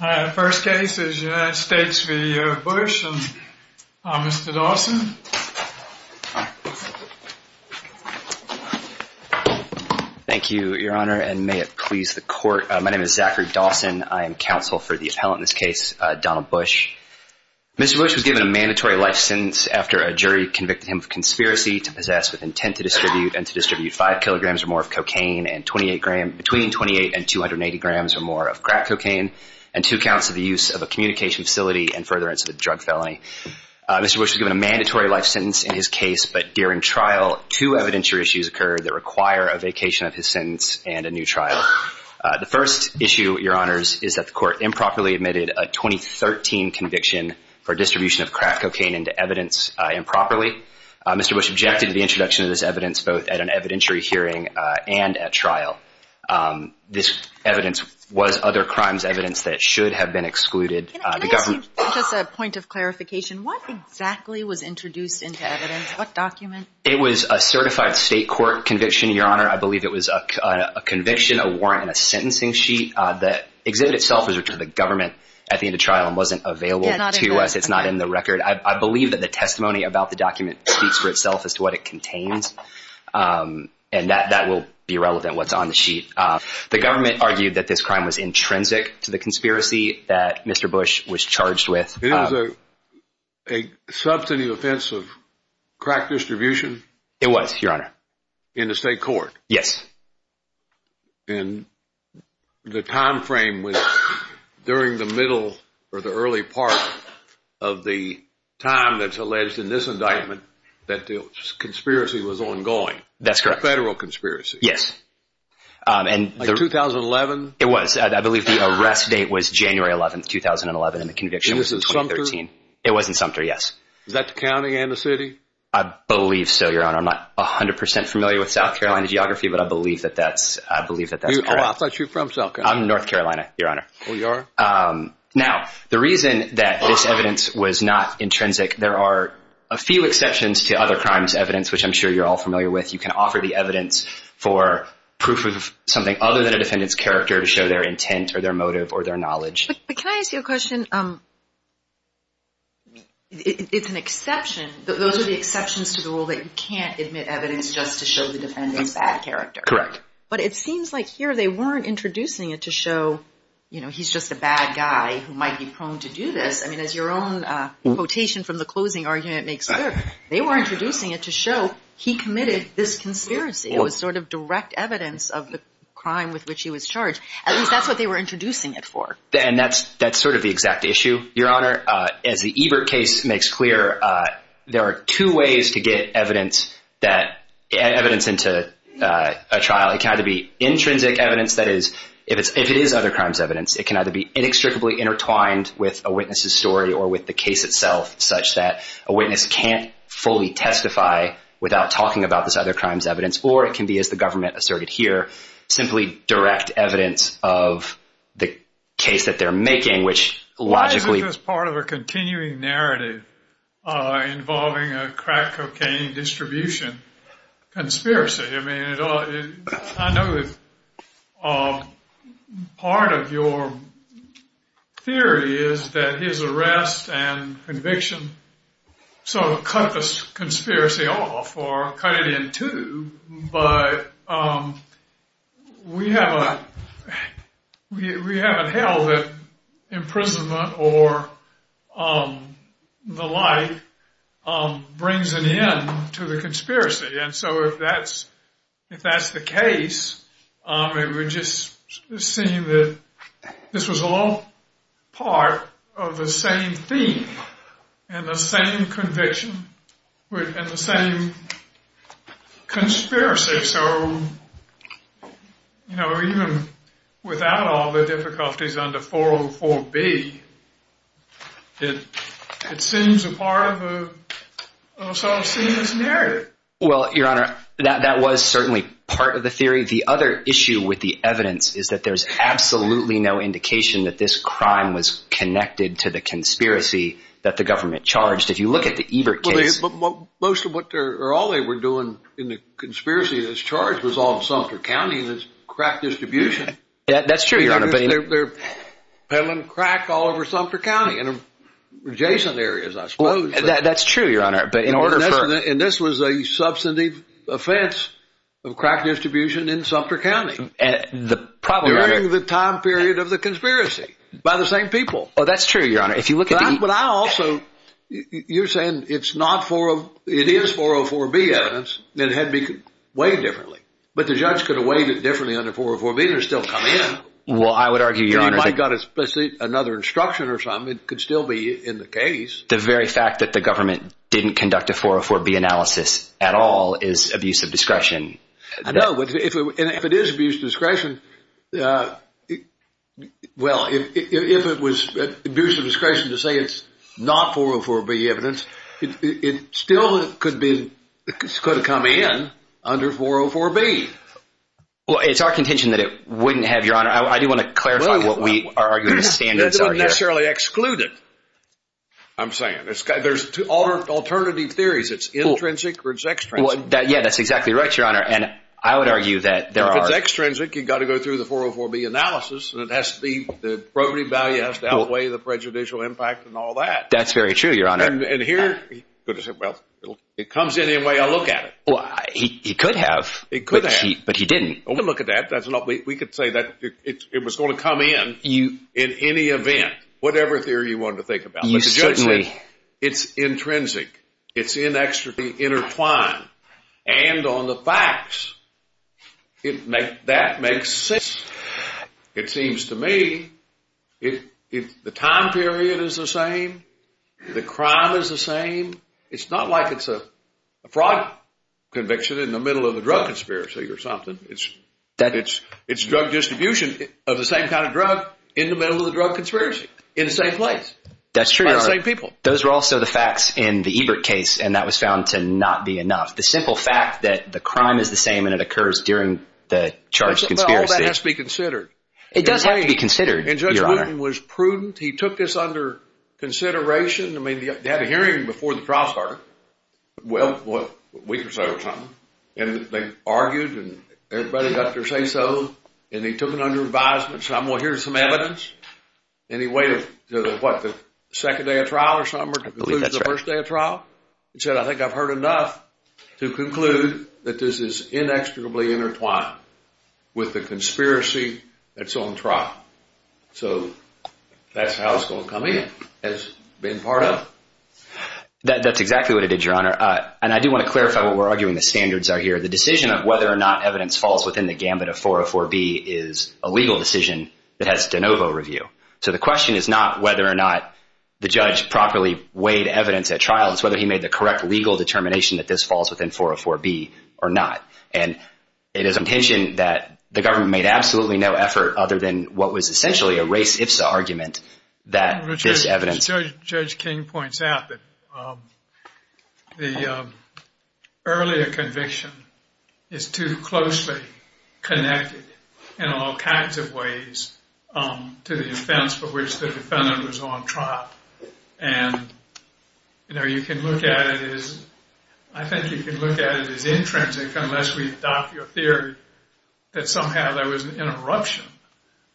The first case is United States v. Bush. Mr. Dawson. Thank you, your honor, and may it please the court. My name is Zachary Dawson. I am counsel for the appellant in this case, Donald Bush. Mr. Bush was given a mandatory life sentence after a jury convicted him of conspiracy to possess with intent to distribute and to distribute 5 kilograms or more of cocaine and between 28 and 280 grams or more of crack cocaine and two counts of the use of a communication facility and furtherance of a drug felony. Mr. Bush was given a mandatory life sentence in his case, but during trial, two evidentiary issues occurred that require a vacation of his sentence and a new trial. The first issue, your honors, is that the court improperly admitted a 2013 conviction for distribution of crack cocaine into evidence improperly. Mr. Bush objected to the introduction of this evidence both at an evidentiary hearing and at trial. This evidence was other crimes evidence that should have been excluded. Can I ask you just a point of clarification? What exactly was introduced into evidence? What document? It was a certified state court conviction, your honor. I believe it was a conviction, a warrant, and a sentencing sheet. The exhibit itself was referred to the government at the end of trial and wasn't available to us. It's not in the record. I believe that the testimony about the document speaks for itself as to what it contains and that will be relevant what's on the sheet. The government argued that this crime was intrinsic to the conspiracy that Mr. Bush was charged with. It was a substantive offense of crack distribution? It was, your honor. In the state court? Yes. And the time frame was during the middle or the early part of the time that's alleged in this indictment that the conspiracy was ongoing? That's correct. A federal conspiracy? Yes. In 2011? It was. I believe the arrest date was January 11, 2011, and the conviction was in 2013. It was in Sumter? It was in Sumter, yes. Was that the county and the city? I believe so, your honor. I'm not 100% familiar with South Carolina geography, but I believe that that's correct. I thought you were from South Carolina. I'm North Carolina, your honor. Oh, you are? Now, the reason that this evidence was not intrinsic, there are a few exceptions to other crimes evidence, which I'm sure you're all familiar with. You can offer the evidence for proof of something other than a defendant's character to show their intent or their motive or their knowledge. But can I ask you a question? It's an exception. Those are the exceptions to the rule that you can't admit evidence just to show the defendant's bad character. Correct. But it seems like here they weren't introducing it to show, you know, he's just a bad guy who might be prone to do this. I mean, as your own quotation from the closing argument makes clear, they were introducing it to show he committed this conspiracy. It was sort of direct evidence of the crime with which he was charged. At least that's what they were introducing it for. And that's sort of the exact issue, your honor. As the Ebert case makes clear, there are two ways to get evidence into a trial. It can either be intrinsic evidence, that is, if it is other crimes evidence, it can either be inextricably intertwined with a witness's story or with the case itself, such that a witness can't fully testify without talking about this other crimes evidence, or it can be, as the government asserted here, simply direct evidence of the case that they're making, Why isn't this part of a continuing narrative involving a crack cocaine distribution conspiracy? I mean, I know part of your theory is that his arrest and conviction sort of cut this conspiracy off or cut it in two, but we haven't held that imprisonment or the like brings an end to the conspiracy. And so if that's the case, it would just seem that this was all part of the same theme and the same conviction and the same conspiracy. So, you know, even without all the difficulties under 404B, it seems a part of a sort of seamless narrative. Well, your honor, that was certainly part of the theory. The other issue with the evidence is that there's absolutely no indication that this crime was connected to the conspiracy that the government charged. If you look at the Ebert case, most of what or all they were doing in the conspiracy, this charge was on Sumter County, this crack distribution. That's true. They're peddling crack all over Sumter County and adjacent areas, I suppose. That's true, your honor. And this was a substantive offense of crack distribution in Sumter County. And the problem during the time period of the conspiracy by the same people. Oh, that's true, your honor. If you look at what I also you're saying, it's not for it is 404B evidence. It had to be weighed differently. But the judge could have weighed it differently under 404B. There's still coming in. Well, I would argue, your honor, I got another instruction or something could still be in the case. The very fact that the government didn't conduct a 404B analysis at all is abuse of discretion. I know, but if it is abuse of discretion, well, if it was abuse of discretion to say it's not 404B evidence, it still could come in under 404B. Well, it's our contention that it wouldn't have, your honor. I do want to clarify what we are arguing the standards are here. It's not necessarily excluded. I'm saying there's two alternative theories. It's intrinsic or it's extrinsic. Yeah, that's exactly right, your honor. And I would argue that there are. If it's extrinsic, you've got to go through the 404B analysis. And it has to be the probity value has to outweigh the prejudicial impact and all that. That's very true, your honor. And here, well, it comes in any way I look at it. Well, he could have. He could have. But he didn't. We could say that it was going to come in in any event, whatever theory you want to think about. Certainly. It's intrinsic. It's inextricably intertwined. And on the facts, that makes sense. It seems to me the time period is the same. The crime is the same. It's not like it's a fraud conviction in the middle of a drug conspiracy or something. It's drug distribution of the same kind of drug in the middle of a drug conspiracy in the same place. That's true. By the same people. Those were also the facts in the Ebert case, and that was found to not be enough. The simple fact that the crime is the same and it occurs during the charged conspiracy. Well, all that has to be considered. It does have to be considered, your honor. And Judge Wooten was prudent. He took this under consideration. I mean, they had a hearing before the trial started. Well, a week or so or something. And they argued, and everybody got their say-so. And he took it under advisement. Said, well, here's some evidence. And he waited until, what, the second day of trial or something? I believe that's right. The first day of trial. He said, I think I've heard enough to conclude that this is inextricably intertwined with the conspiracy that's on trial. So that's how it's going to come in. That's exactly what it did, your honor. And I do want to clarify what we're arguing the standards are here. The decision of whether or not evidence falls within the gamut of 404B is a legal decision that has de novo review. So the question is not whether or not the judge properly weighed evidence at trial. It's whether he made the correct legal determination that this falls within 404B or not. And it is intention that the government made absolutely no effort other than what was essentially a race-ifs argument that this evidence. Judge King points out that the earlier conviction is too closely connected in all kinds of ways to the offense for which the defendant was on trial. And, you know, you can look at it as, I think you can look at it as intrinsic unless we adopt your theory that somehow there was an interruption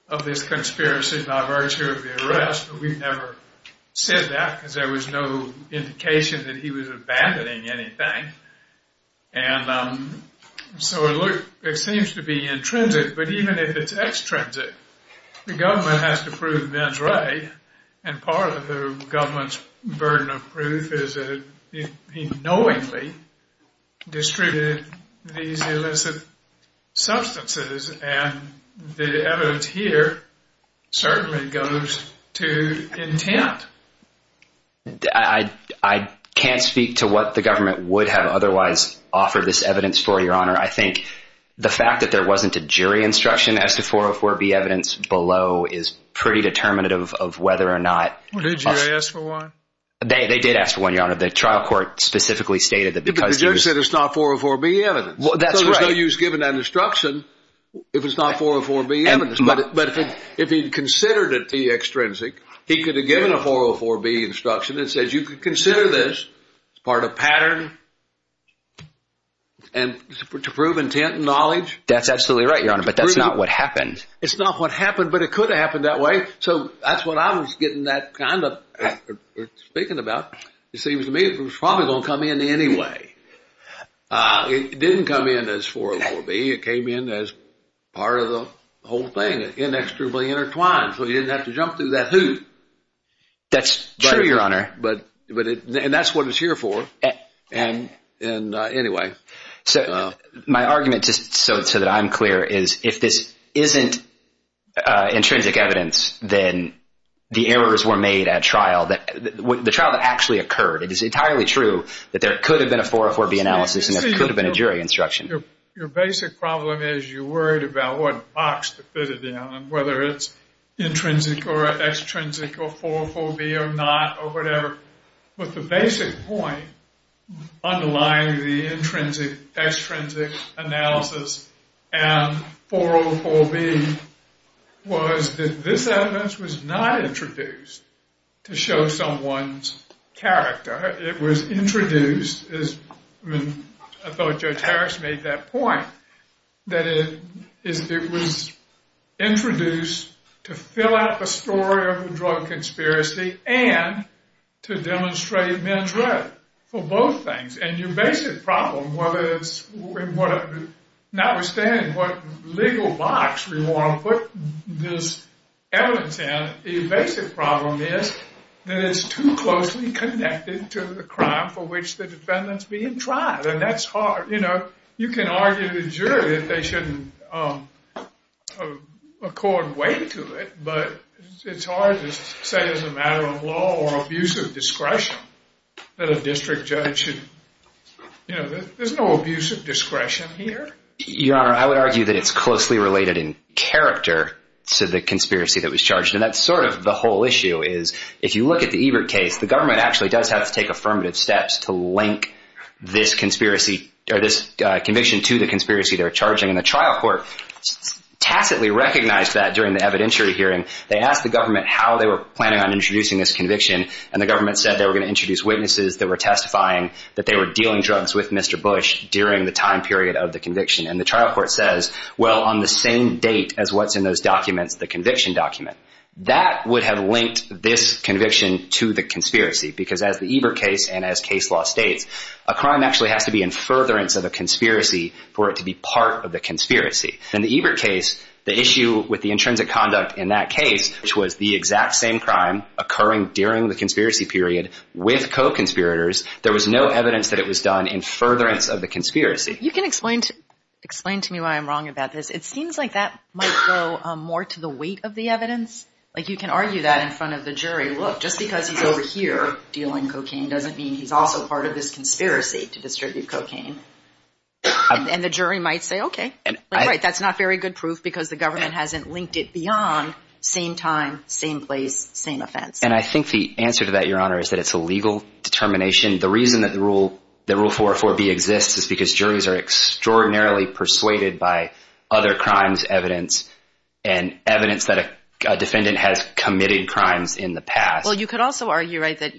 of this conspiracy by virtue of the arrest. But we've never said that because there was no indication that he was abandoning anything. And so it seems to be intrinsic. But even if it's extrinsic, the government has to prove Ben's right. And part of the government's burden of proof is that he knowingly distributed these illicit substances. And the evidence here certainly goes to intent. I can't speak to what the government would have otherwise offered this evidence for, Your Honor. I think the fact that there wasn't a jury instruction as to 404B evidence below is pretty determinative of whether or not. Did you ask for one? They did ask for one, Your Honor. The trial court specifically stated that because the judge said it's not 404B evidence. Well, that's right. So there's no use giving that instruction if it's not 404B evidence. But if he considered it to be extrinsic, he could have given a 404B instruction that says you could consider this part of pattern and to prove intent and knowledge. That's absolutely right, Your Honor. But that's not what happened. It's not what happened, but it could have happened that way. So that's what I was getting that kind of speaking about. It seems to me it was probably going to come in anyway. It didn't come in as 404B. It came in as part of the whole thing, inexorably intertwined, so you didn't have to jump through that hoop. That's true, Your Honor. And that's what it's here for. And anyway. So my argument, just so that I'm clear, is if this isn't intrinsic evidence, then the errors were made at trial. The trial that actually occurred, it is entirely true that there could have been a 404B analysis and there could have been a jury instruction. Your basic problem is you're worried about what box to fit it in and whether it's intrinsic or extrinsic or 404B or not or whatever. But the basic point underlying the intrinsic-extrinsic analysis and 404B was that this evidence was not introduced to show someone's character. It was introduced, as I thought Judge Harris made that point, that it was introduced to fill out the story of the drug conspiracy and to demonstrate men's right for both things. And your basic problem, notwithstanding what legal box we want to put this evidence in, your basic problem is that it's too closely connected to the crime for which the defendant's being tried. And that's hard. You know, you can argue to the jury that they shouldn't accord weight to it, but it's hard to say as a matter of law or abuse of discretion that a district judge should, you know, there's no abuse of discretion here. Your Honor, I would argue that it's closely related in character to the conspiracy that was charged. And that's sort of the whole issue is if you look at the Ebert case, the government actually does have to take affirmative steps to link this conspiracy or this conviction to the conspiracy they're charging. And the trial court tacitly recognized that during the evidentiary hearing. They asked the government how they were planning on introducing this conviction, and the government said they were going to introduce witnesses that were testifying that they were dealing drugs with Mr. Bush during the time period of the conviction. And the trial court says, well, on the same date as what's in those documents, the conviction document, that would have linked this conviction to the conspiracy because as the Ebert case and as case law states, a crime actually has to be in furtherance of a conspiracy for it to be part of the conspiracy. In the Ebert case, the issue with the intrinsic conduct in that case, which was the exact same crime occurring during the conspiracy period with co-conspirators, there was no evidence that it was done in furtherance of the conspiracy. You can explain to me why I'm wrong about this. It seems like that might go more to the weight of the evidence. Like you can argue that in front of the jury. Look, just because he's over here dealing cocaine doesn't mean he's also part of this conspiracy to distribute cocaine. And the jury might say, okay, that's not very good proof because the government hasn't linked it beyond same time, same place, same offense. And I think the answer to that, Your Honor, is that it's a legal determination. The reason that the rule, the rule 404B exists is because juries are extraordinarily persuaded by other crimes evidence and evidence that a defendant has committed crimes in the past. Well, you could also argue, right, that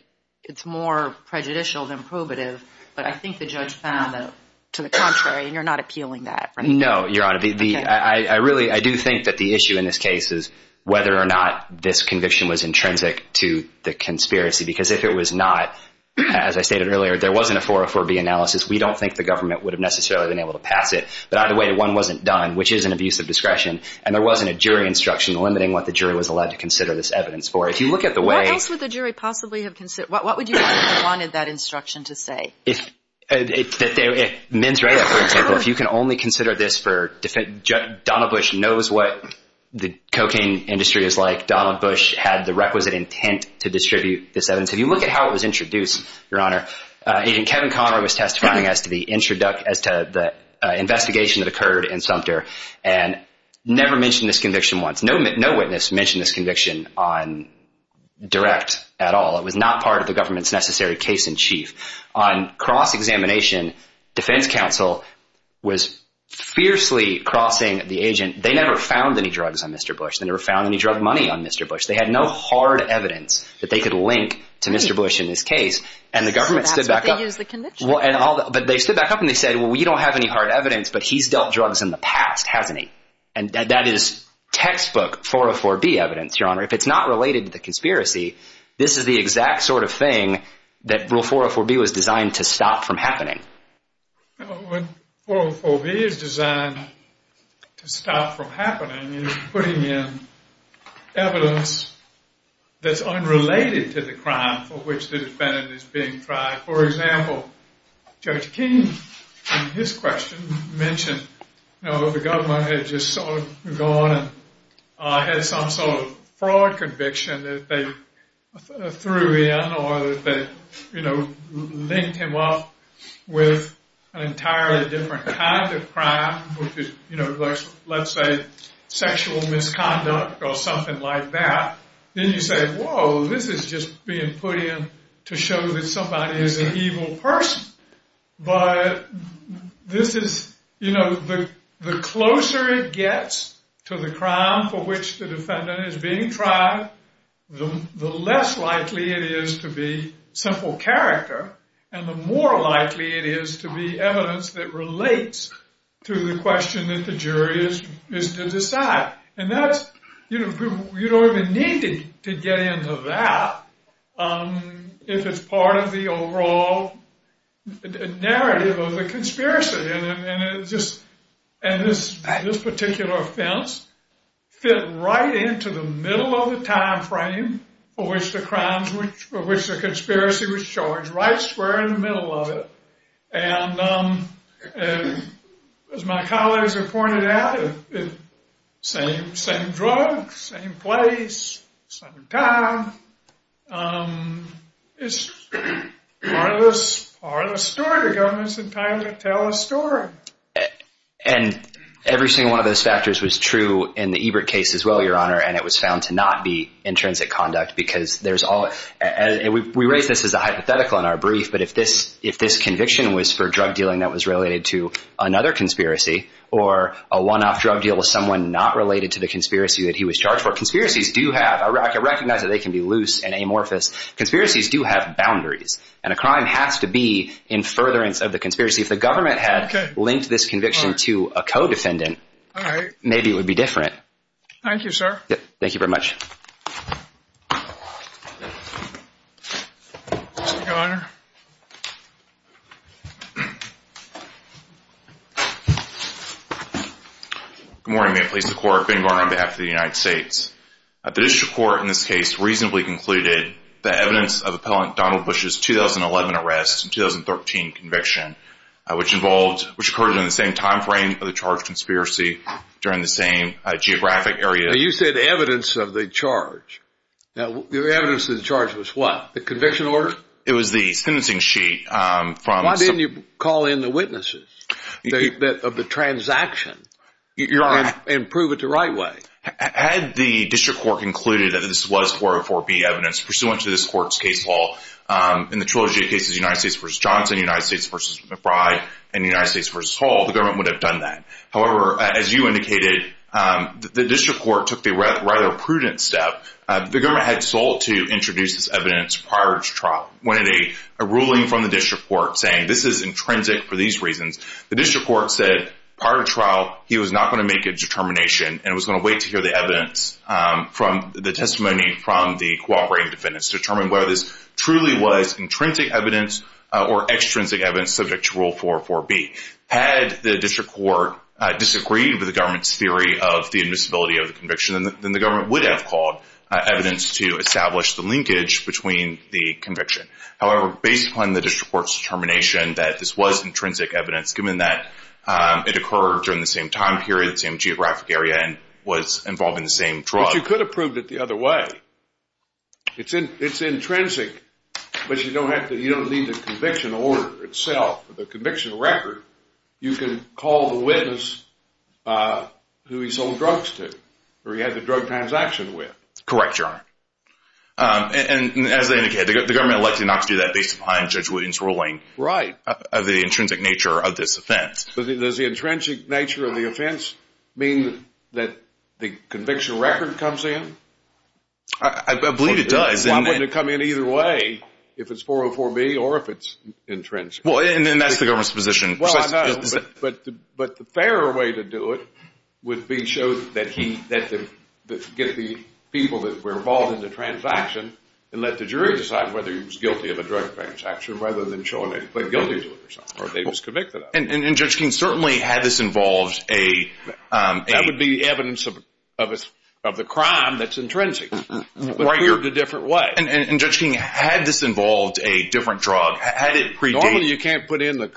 it's more prejudicial than probative. But I think the judge found that to the contrary, and you're not appealing that. No, Your Honor. I really, I do think that the issue in this case is whether or not this conviction was intrinsic to the conspiracy, because if it was not, as I stated earlier, there wasn't a 404B analysis. We don't think the government would have necessarily been able to pass it. But either way, one wasn't done, which is an abuse of discretion, and there wasn't a jury instruction limiting what the jury was allowed to consider this evidence for. What else would the jury possibly have considered? What would you have wanted that instruction to say? The men's right, for example. If you can only consider this for defendant, Donald Bush knows what the cocaine industry is like. Donald Bush had the requisite intent to distribute this evidence. If you look at how it was introduced, your honor, agent Kevin Conner was testifying as to the investigation that occurred in Sumter and never mentioned this conviction once. No witness mentioned this conviction on direct at all. It was not part of the government's necessary case in chief. On cross-examination, defense counsel was fiercely crossing the agent. They never found any drugs on Mr. Bush. They never found any drug money on Mr. Bush. They had no hard evidence that they could link to Mr. Bush in this case. And the government stood back up. But they stood back up and they said, well, we don't have any hard evidence, but he's dealt drugs in the past, hasn't he? And that is textbook 404B evidence, your honor. If it's not related to the conspiracy, this is the exact sort of thing that rule 404B was designed to stop from happening. What 404B is designed to stop from happening is putting in evidence that's unrelated to the crime for which the defendant is being tried. For example, Judge King, in his question, mentioned the government had just sort of gone and had some sort of fraud conviction that they threw in or that they linked him up with an entirely different kind of crime, which is, let's say, sexual misconduct or something like that. Then you say, whoa, this is just being put in to show that somebody is an evil person. But this is, you know, the closer it gets to the crime for which the defendant is being tried, the less likely it is to be simple character and the more likely it is to be evidence that relates to the question that the jury is to decide. And that's, you know, you don't even need to get into that if it's part of the overall narrative of the conspiracy. And this particular offense fit right into the middle of the time frame for which the crime, for which the conspiracy was charged, right square in the middle of it. And as my colleagues have pointed out, same drug, same place, same time. It's part of the story. The government's entitled to tell a story. And every single one of those factors was true in the Ebert case as well, Your Honor. And it was found to not be intrinsic conduct because there's all we raise this as a hypothetical in our brief. But if this if this conviction was for drug dealing that was related to another conspiracy or a one off drug deal with someone not related to the conspiracy that he was charged for, conspiracies do have a rocket. Recognize that they can be loose and amorphous. Conspiracies do have boundaries and a crime has to be in furtherance of the conspiracy. If the government had linked this conviction to a codefendant, maybe it would be different. Thank you, sir. Thank you very much. Your Honor. Good morning. May it please the Court. Ben Gardner on behalf of the United States. The district court in this case reasonably concluded the evidence of appellant Donald Bush's 2011 arrest and 2013 conviction, which involved, which occurred in the same time frame of the charge conspiracy during the same geographic area. You said evidence of the charge. Evidence of the charge was what? The conviction order? It was the sentencing sheet. Why didn't you call in the witnesses of the transaction? Your Honor. And prove it the right way. Had the district court concluded that this was 404B evidence pursuant to this court's case law in the trilogy of cases, United States v. Johnson, United States v. McBride, and United States v. Hall, the government would have done that. However, as you indicated, the district court took the rather prudent step. The government had sought to introduce this evidence prior to trial. When a ruling from the district court saying this is intrinsic for these reasons, the district court said prior to trial he was not going to make a determination and was going to wait to hear the evidence from the testimony from the cooperating defendants to determine whether this truly was intrinsic evidence or extrinsic evidence subject to rule 404B. Had the district court disagreed with the government's theory of the invincibility of the conviction, then the government would have called evidence to establish the linkage between the conviction. However, based upon the district court's determination that this was intrinsic evidence, given that it occurred during the same time period, same geographic area, and was involved in the same drug. But you could have proved it the other way. It's intrinsic, but you don't need the conviction order itself or the conviction record. You can call the witness who he sold drugs to or he had the drug transaction with. Correct, Your Honor. And as they indicated, the government elected not to do that based upon Judge Williams' ruling. Right. Of the intrinsic nature of this offense. Does the intrinsic nature of the offense mean that the conviction record comes in? I believe it does. Why wouldn't it come in either way if it's 404B or if it's intrinsic? Well, and that's the government's position. Well, I know, but the fairer way to do it would be to get the people that were involved in the transaction and let the jury decide whether he was guilty of a drug transaction rather than showing that he played guilty to it or something or that he was convicted of it. And Judge King, certainly had this involved a – That would be evidence of the crime that's intrinsic, but cleared a different way. And Judge King, had this involved a different drug, had it predated – Normally, you can't put in the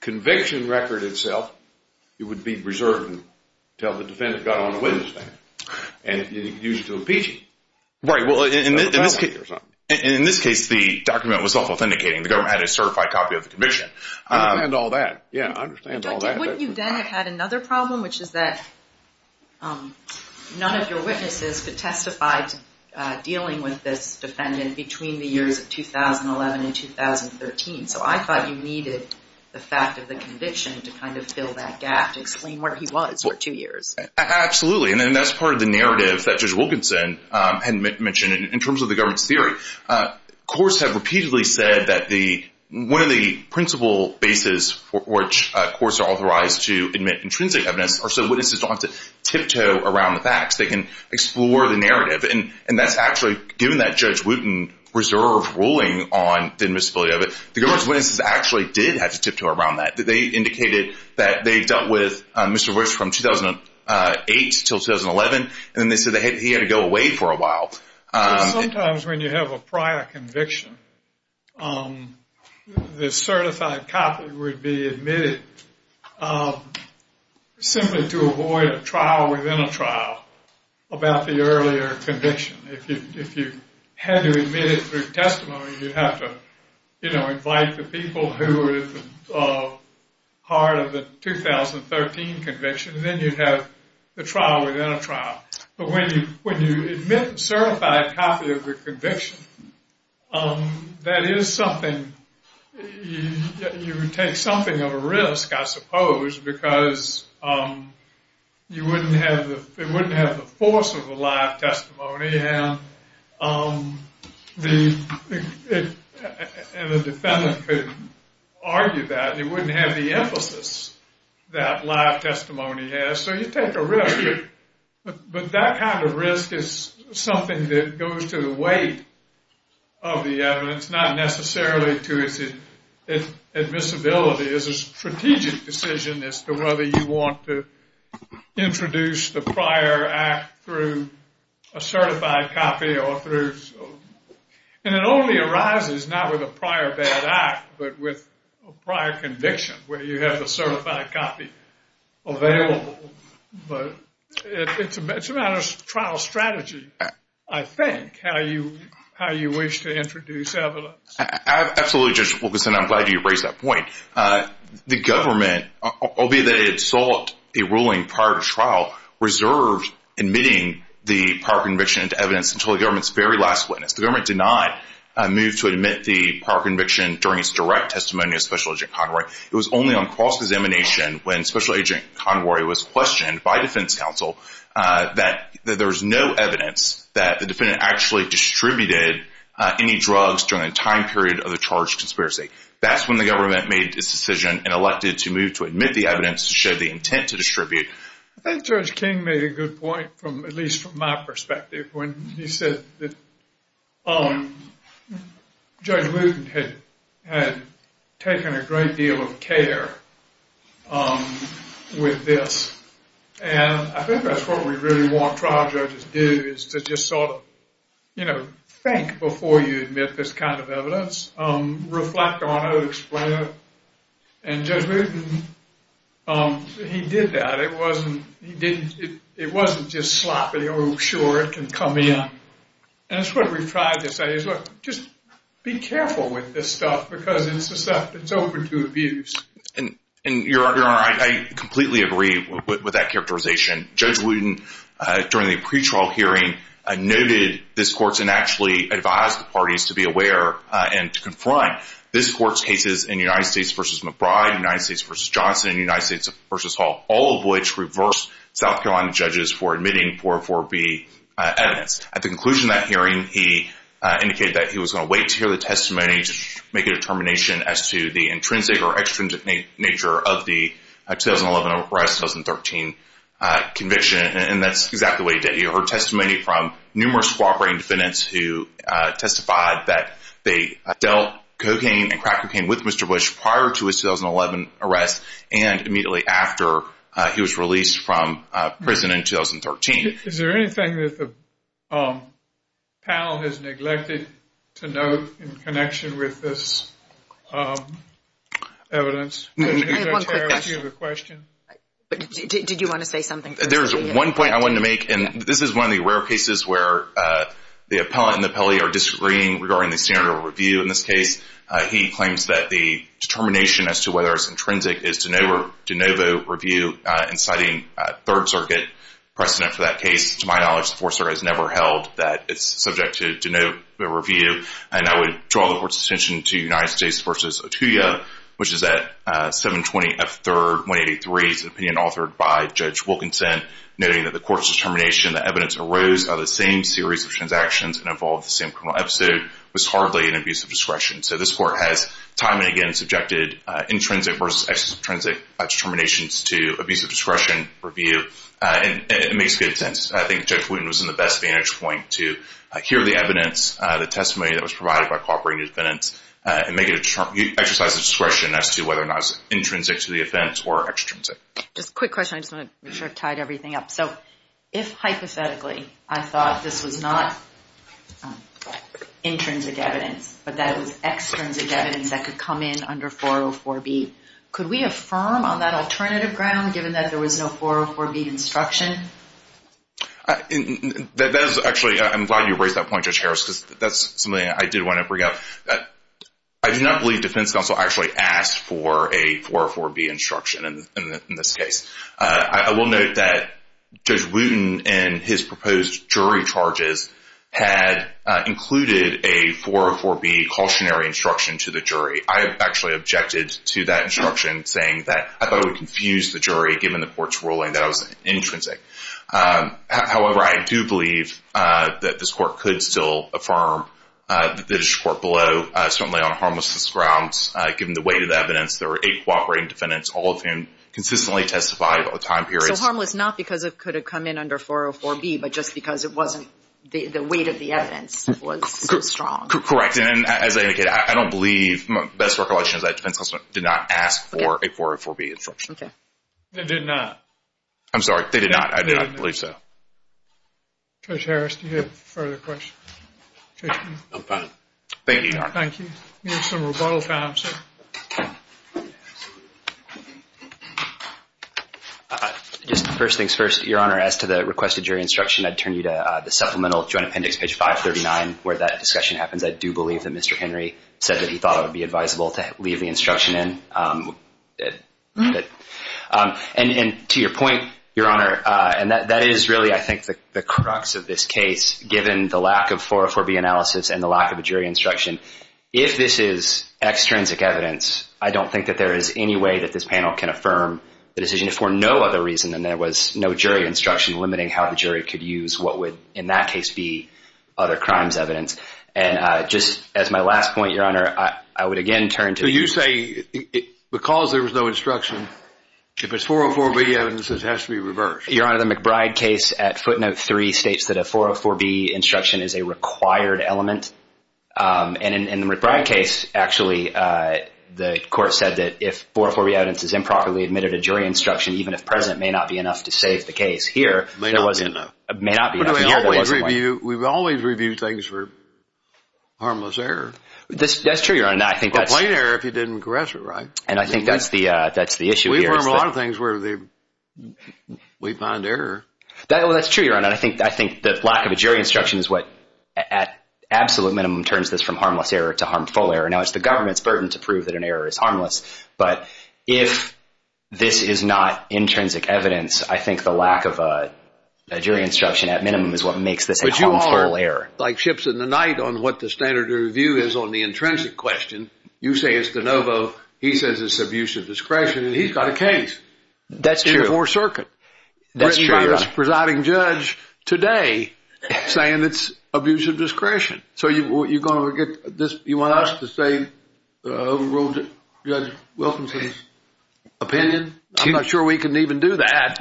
conviction record itself. It would be reserved until the defendant got on a witness stand and used it to impeach him. Right. Well, in this case, the document was self-authenticating. The government had a certified copy of the conviction. I understand all that. Yeah, I understand all that. But wouldn't you then have had another problem, which is that none of your witnesses could testify dealing with this defendant between the years of 2011 and 2013. So I thought you needed the fact of the conviction to kind of fill that gap, to explain where he was for two years. Absolutely, and that's part of the narrative that Judge Wilkinson had mentioned in terms of the government's theory. Courts have repeatedly said that one of the principal bases for which courts are authorized to admit intrinsic evidence are so witnesses don't have to tiptoe around the facts. They can explore the narrative. And that's actually – given that Judge Wooten reserved ruling on the invisibility of it, the government's witnesses actually did have to tiptoe around that. They indicated that they dealt with Mr. Wicks from 2008 until 2011, and then they said that he had to go away for a while. Sometimes when you have a prior conviction, the certified copy would be admitted simply to avoid a trial within a trial. About the earlier conviction, if you had to admit it through testimony, you'd have to invite the people who were part of the 2013 conviction, and then you'd have the trial within a trial. But when you admit a certified copy of the conviction, that is something – you take something of a risk, I suppose, because you wouldn't have – it wouldn't have the force of a live testimony, and the defendant could argue that. It wouldn't have the emphasis that live testimony has. So you take a risk, but that kind of risk is something that goes to the weight of the evidence, and it's not necessarily to its admissibility. It's a strategic decision as to whether you want to introduce the prior act through a certified copy or through – and it only arises not with a prior bad act, but with a prior conviction where you have the certified copy available. But it's a matter of trial strategy, I think, how you wish to introduce evidence. Absolutely, Judge Wilkinson. I'm glad you raised that point. The government, albeit that it sought a ruling prior to trial, reserved admitting the prior conviction into evidence until the government's very last witness. The government denied a move to admit the prior conviction during its direct testimony of Special Agent Conroy. It was only on cross-examination when Special Agent Conroy was questioned by defense counsel that there was no evidence that the defendant actually distributed any drugs during the time period of the charged conspiracy. That's when the government made its decision and elected to move to admit the evidence to show the intent to distribute. I think Judge King made a good point, at least from my perspective, when he said that Judge Lewton had taken a great deal of care with this. And I think that's what we really want trial judges to do is to just sort of, you know, think before you admit this kind of evidence, reflect on it, explain it. And Judge Lewton, he did that. It wasn't just sloppy, oh, sure, it can come in. And that's what we've tried to say is, look, just be careful with this stuff because it's the stuff that's open to abuse. And, Your Honor, I completely agree with that characterization. Judge Lewton, during the pretrial hearing, noted this court's and actually advised the parties to be aware and to confront. This court's cases in United States v. McBride, United States v. Johnson, and United States v. Hall all of which reversed South Carolina judges for admitting 404B evidence. At the conclusion of that hearing, he indicated that he was going to wait to hear the testimony to make a determination as to the intrinsic or extrinsic nature of the 2011 arrest and 2013 conviction. And that's exactly what he did. He heard testimony from numerous cooperating defendants who testified that they dealt cocaine and crack cocaine with Mr. Bush prior to his 2011 arrest and immediately after he was released from prison in 2013. Is there anything that the panel has neglected to note in connection with this evidence? I have one quick question. Did you want to say something? There's one point I wanted to make, and this is one of the rare cases where the appellant and the appellee are disagreeing regarding the standard of review in this case. He claims that the determination as to whether it's intrinsic is de novo review inciting Third Circuit precedent for that case. To my knowledge, the Fourth Circuit has never held that it's subject to de novo review. And I would draw the court's attention to United States v. Otuya, which is at 720 F. 3rd, 183. It's an opinion authored by Judge Wilkinson, noting that the court's determination that evidence arose out of the same series of transactions and involved the same criminal episode was hardly an abuse of discretion. So this court has time and again subjected intrinsic versus extrinsic determinations to abuse of discretion review, and it makes good sense. I think Judge Wooten was in the best vantage point to hear the evidence, the testimony that was provided by cooperating defendants, and make it an exercise of discretion as to whether or not it's intrinsic to the offense or extrinsic. Just a quick question. I just want to make sure I've tied everything up. So if hypothetically I thought this was not intrinsic evidence, but that it was extrinsic evidence that could come in under 404B, could we affirm on that alternative ground given that there was no 404B instruction? Actually, I'm glad you raised that point, Judge Harris, because that's something I did want to bring up. I do not believe defense counsel actually asked for a 404B instruction in this case. I will note that Judge Wooten in his proposed jury charges had included a 404B cautionary instruction to the jury. I actually objected to that instruction, saying that I thought it would confuse the jury given the court's ruling that it was intrinsic. However, I do believe that this court could still affirm the British court below, certainly on harmless grounds given the weight of the evidence. There were eight cooperating defendants, all of whom consistently testified over time periods. So harmless not because it could have come in under 404B, but just because it wasn't the weight of the evidence was so strong. Correct, and as I indicated, I don't believe my best recollection is that defense counsel did not ask for a 404B instruction. They did not. I'm sorry, they did not. I do not believe so. Judge Harris, do you have further questions? I'm fine. Thank you, Your Honor. Thank you. We have some rebuttals now, sir. Just first things first, Your Honor, as to the requested jury instruction, I'd turn you to the Supplemental Joint Appendix, page 539, where that discussion happens. I do believe that Mr. Henry said that he thought it would be advisable to leave the instruction in. And to your point, Your Honor, and that is really, I think, the crux of this case, given the lack of 404B analysis and the lack of a jury instruction, if this is extrinsic evidence, I don't think that there is any way that this panel can affirm the decision for no other reason than there was no jury instruction limiting how the jury could use what would, in that case, be other crimes evidence. And just as my last point, Your Honor, I would again turn to the— So you say because there was no instruction, if it's 404B evidence, it has to be reversed. Your Honor, the McBride case at footnote 3 states that a 404B instruction is a required element. And in the McBride case, actually, the court said that if 404B evidence is improperly admitted, a jury instruction, even if present, may not be enough to save the case. Here, there was— May not be enough. May not be enough. We've always reviewed things for harmless error. That's true, Your Honor. Or plain error if you didn't caress it right. And I think that's the issue here. We've learned a lot of things where we find error. That's true, Your Honor. And I think the lack of a jury instruction is what, at absolute minimum, turns this from harmless error to harmful error. Now, it's the government's burden to prove that an error is harmless. But if this is not intrinsic evidence, I think the lack of a jury instruction, at minimum, is what makes this a harmful error. But you all are like ships in the night on what the standard of review is on the intrinsic question. You say it's de novo. He says it's abusive discretion. And he's got a case. That's true. Two-four circuit. That's true, Your Honor. President's presiding judge today saying it's abusive discretion. So you're going to get this—you want us to say Judge Wilkinson's opinion? I'm not sure we can even do that,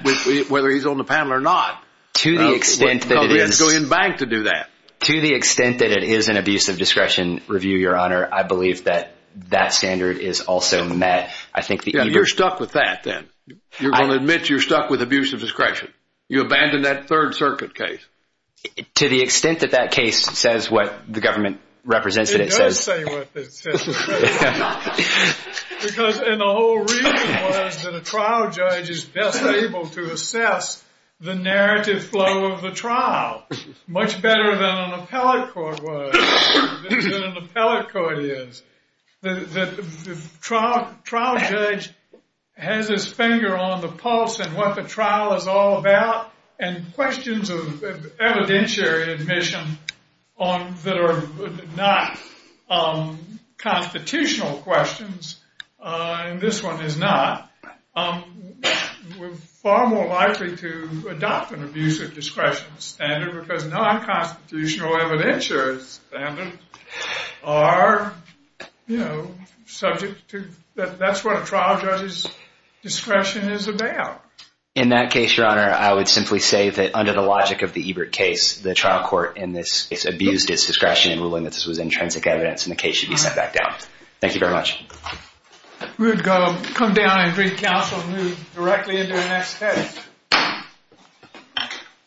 whether he's on the panel or not. To the extent that it is— We're going to go in bank to do that. To the extent that it is an abusive discretion review, Your Honor, I believe that that standard is also met. You're stuck with that, then? You're going to admit you're stuck with abusive discretion? You abandon that third circuit case? To the extent that that case says what the government represents it as. It does say what it says. Because—and the whole reason was that a trial judge is best able to assess the narrative flow of the trial much better than an appellate court was, than an appellate court is. The trial judge has his finger on the pulse and what the trial is all about and questions of evidentiary admission that are not constitutional questions. And this one is not. We're far more likely to adopt an abusive discretion standard because non-constitutional evidentiary standards are subject to— that's what a trial judge's discretion is about. In that case, Your Honor, I would simply say that under the logic of the Ebert case, the trial court in this case abused its discretion in ruling that this was intrinsic evidence and the case should be set back down. Thank you very much. We would come down and bring counsel and move directly into the next case.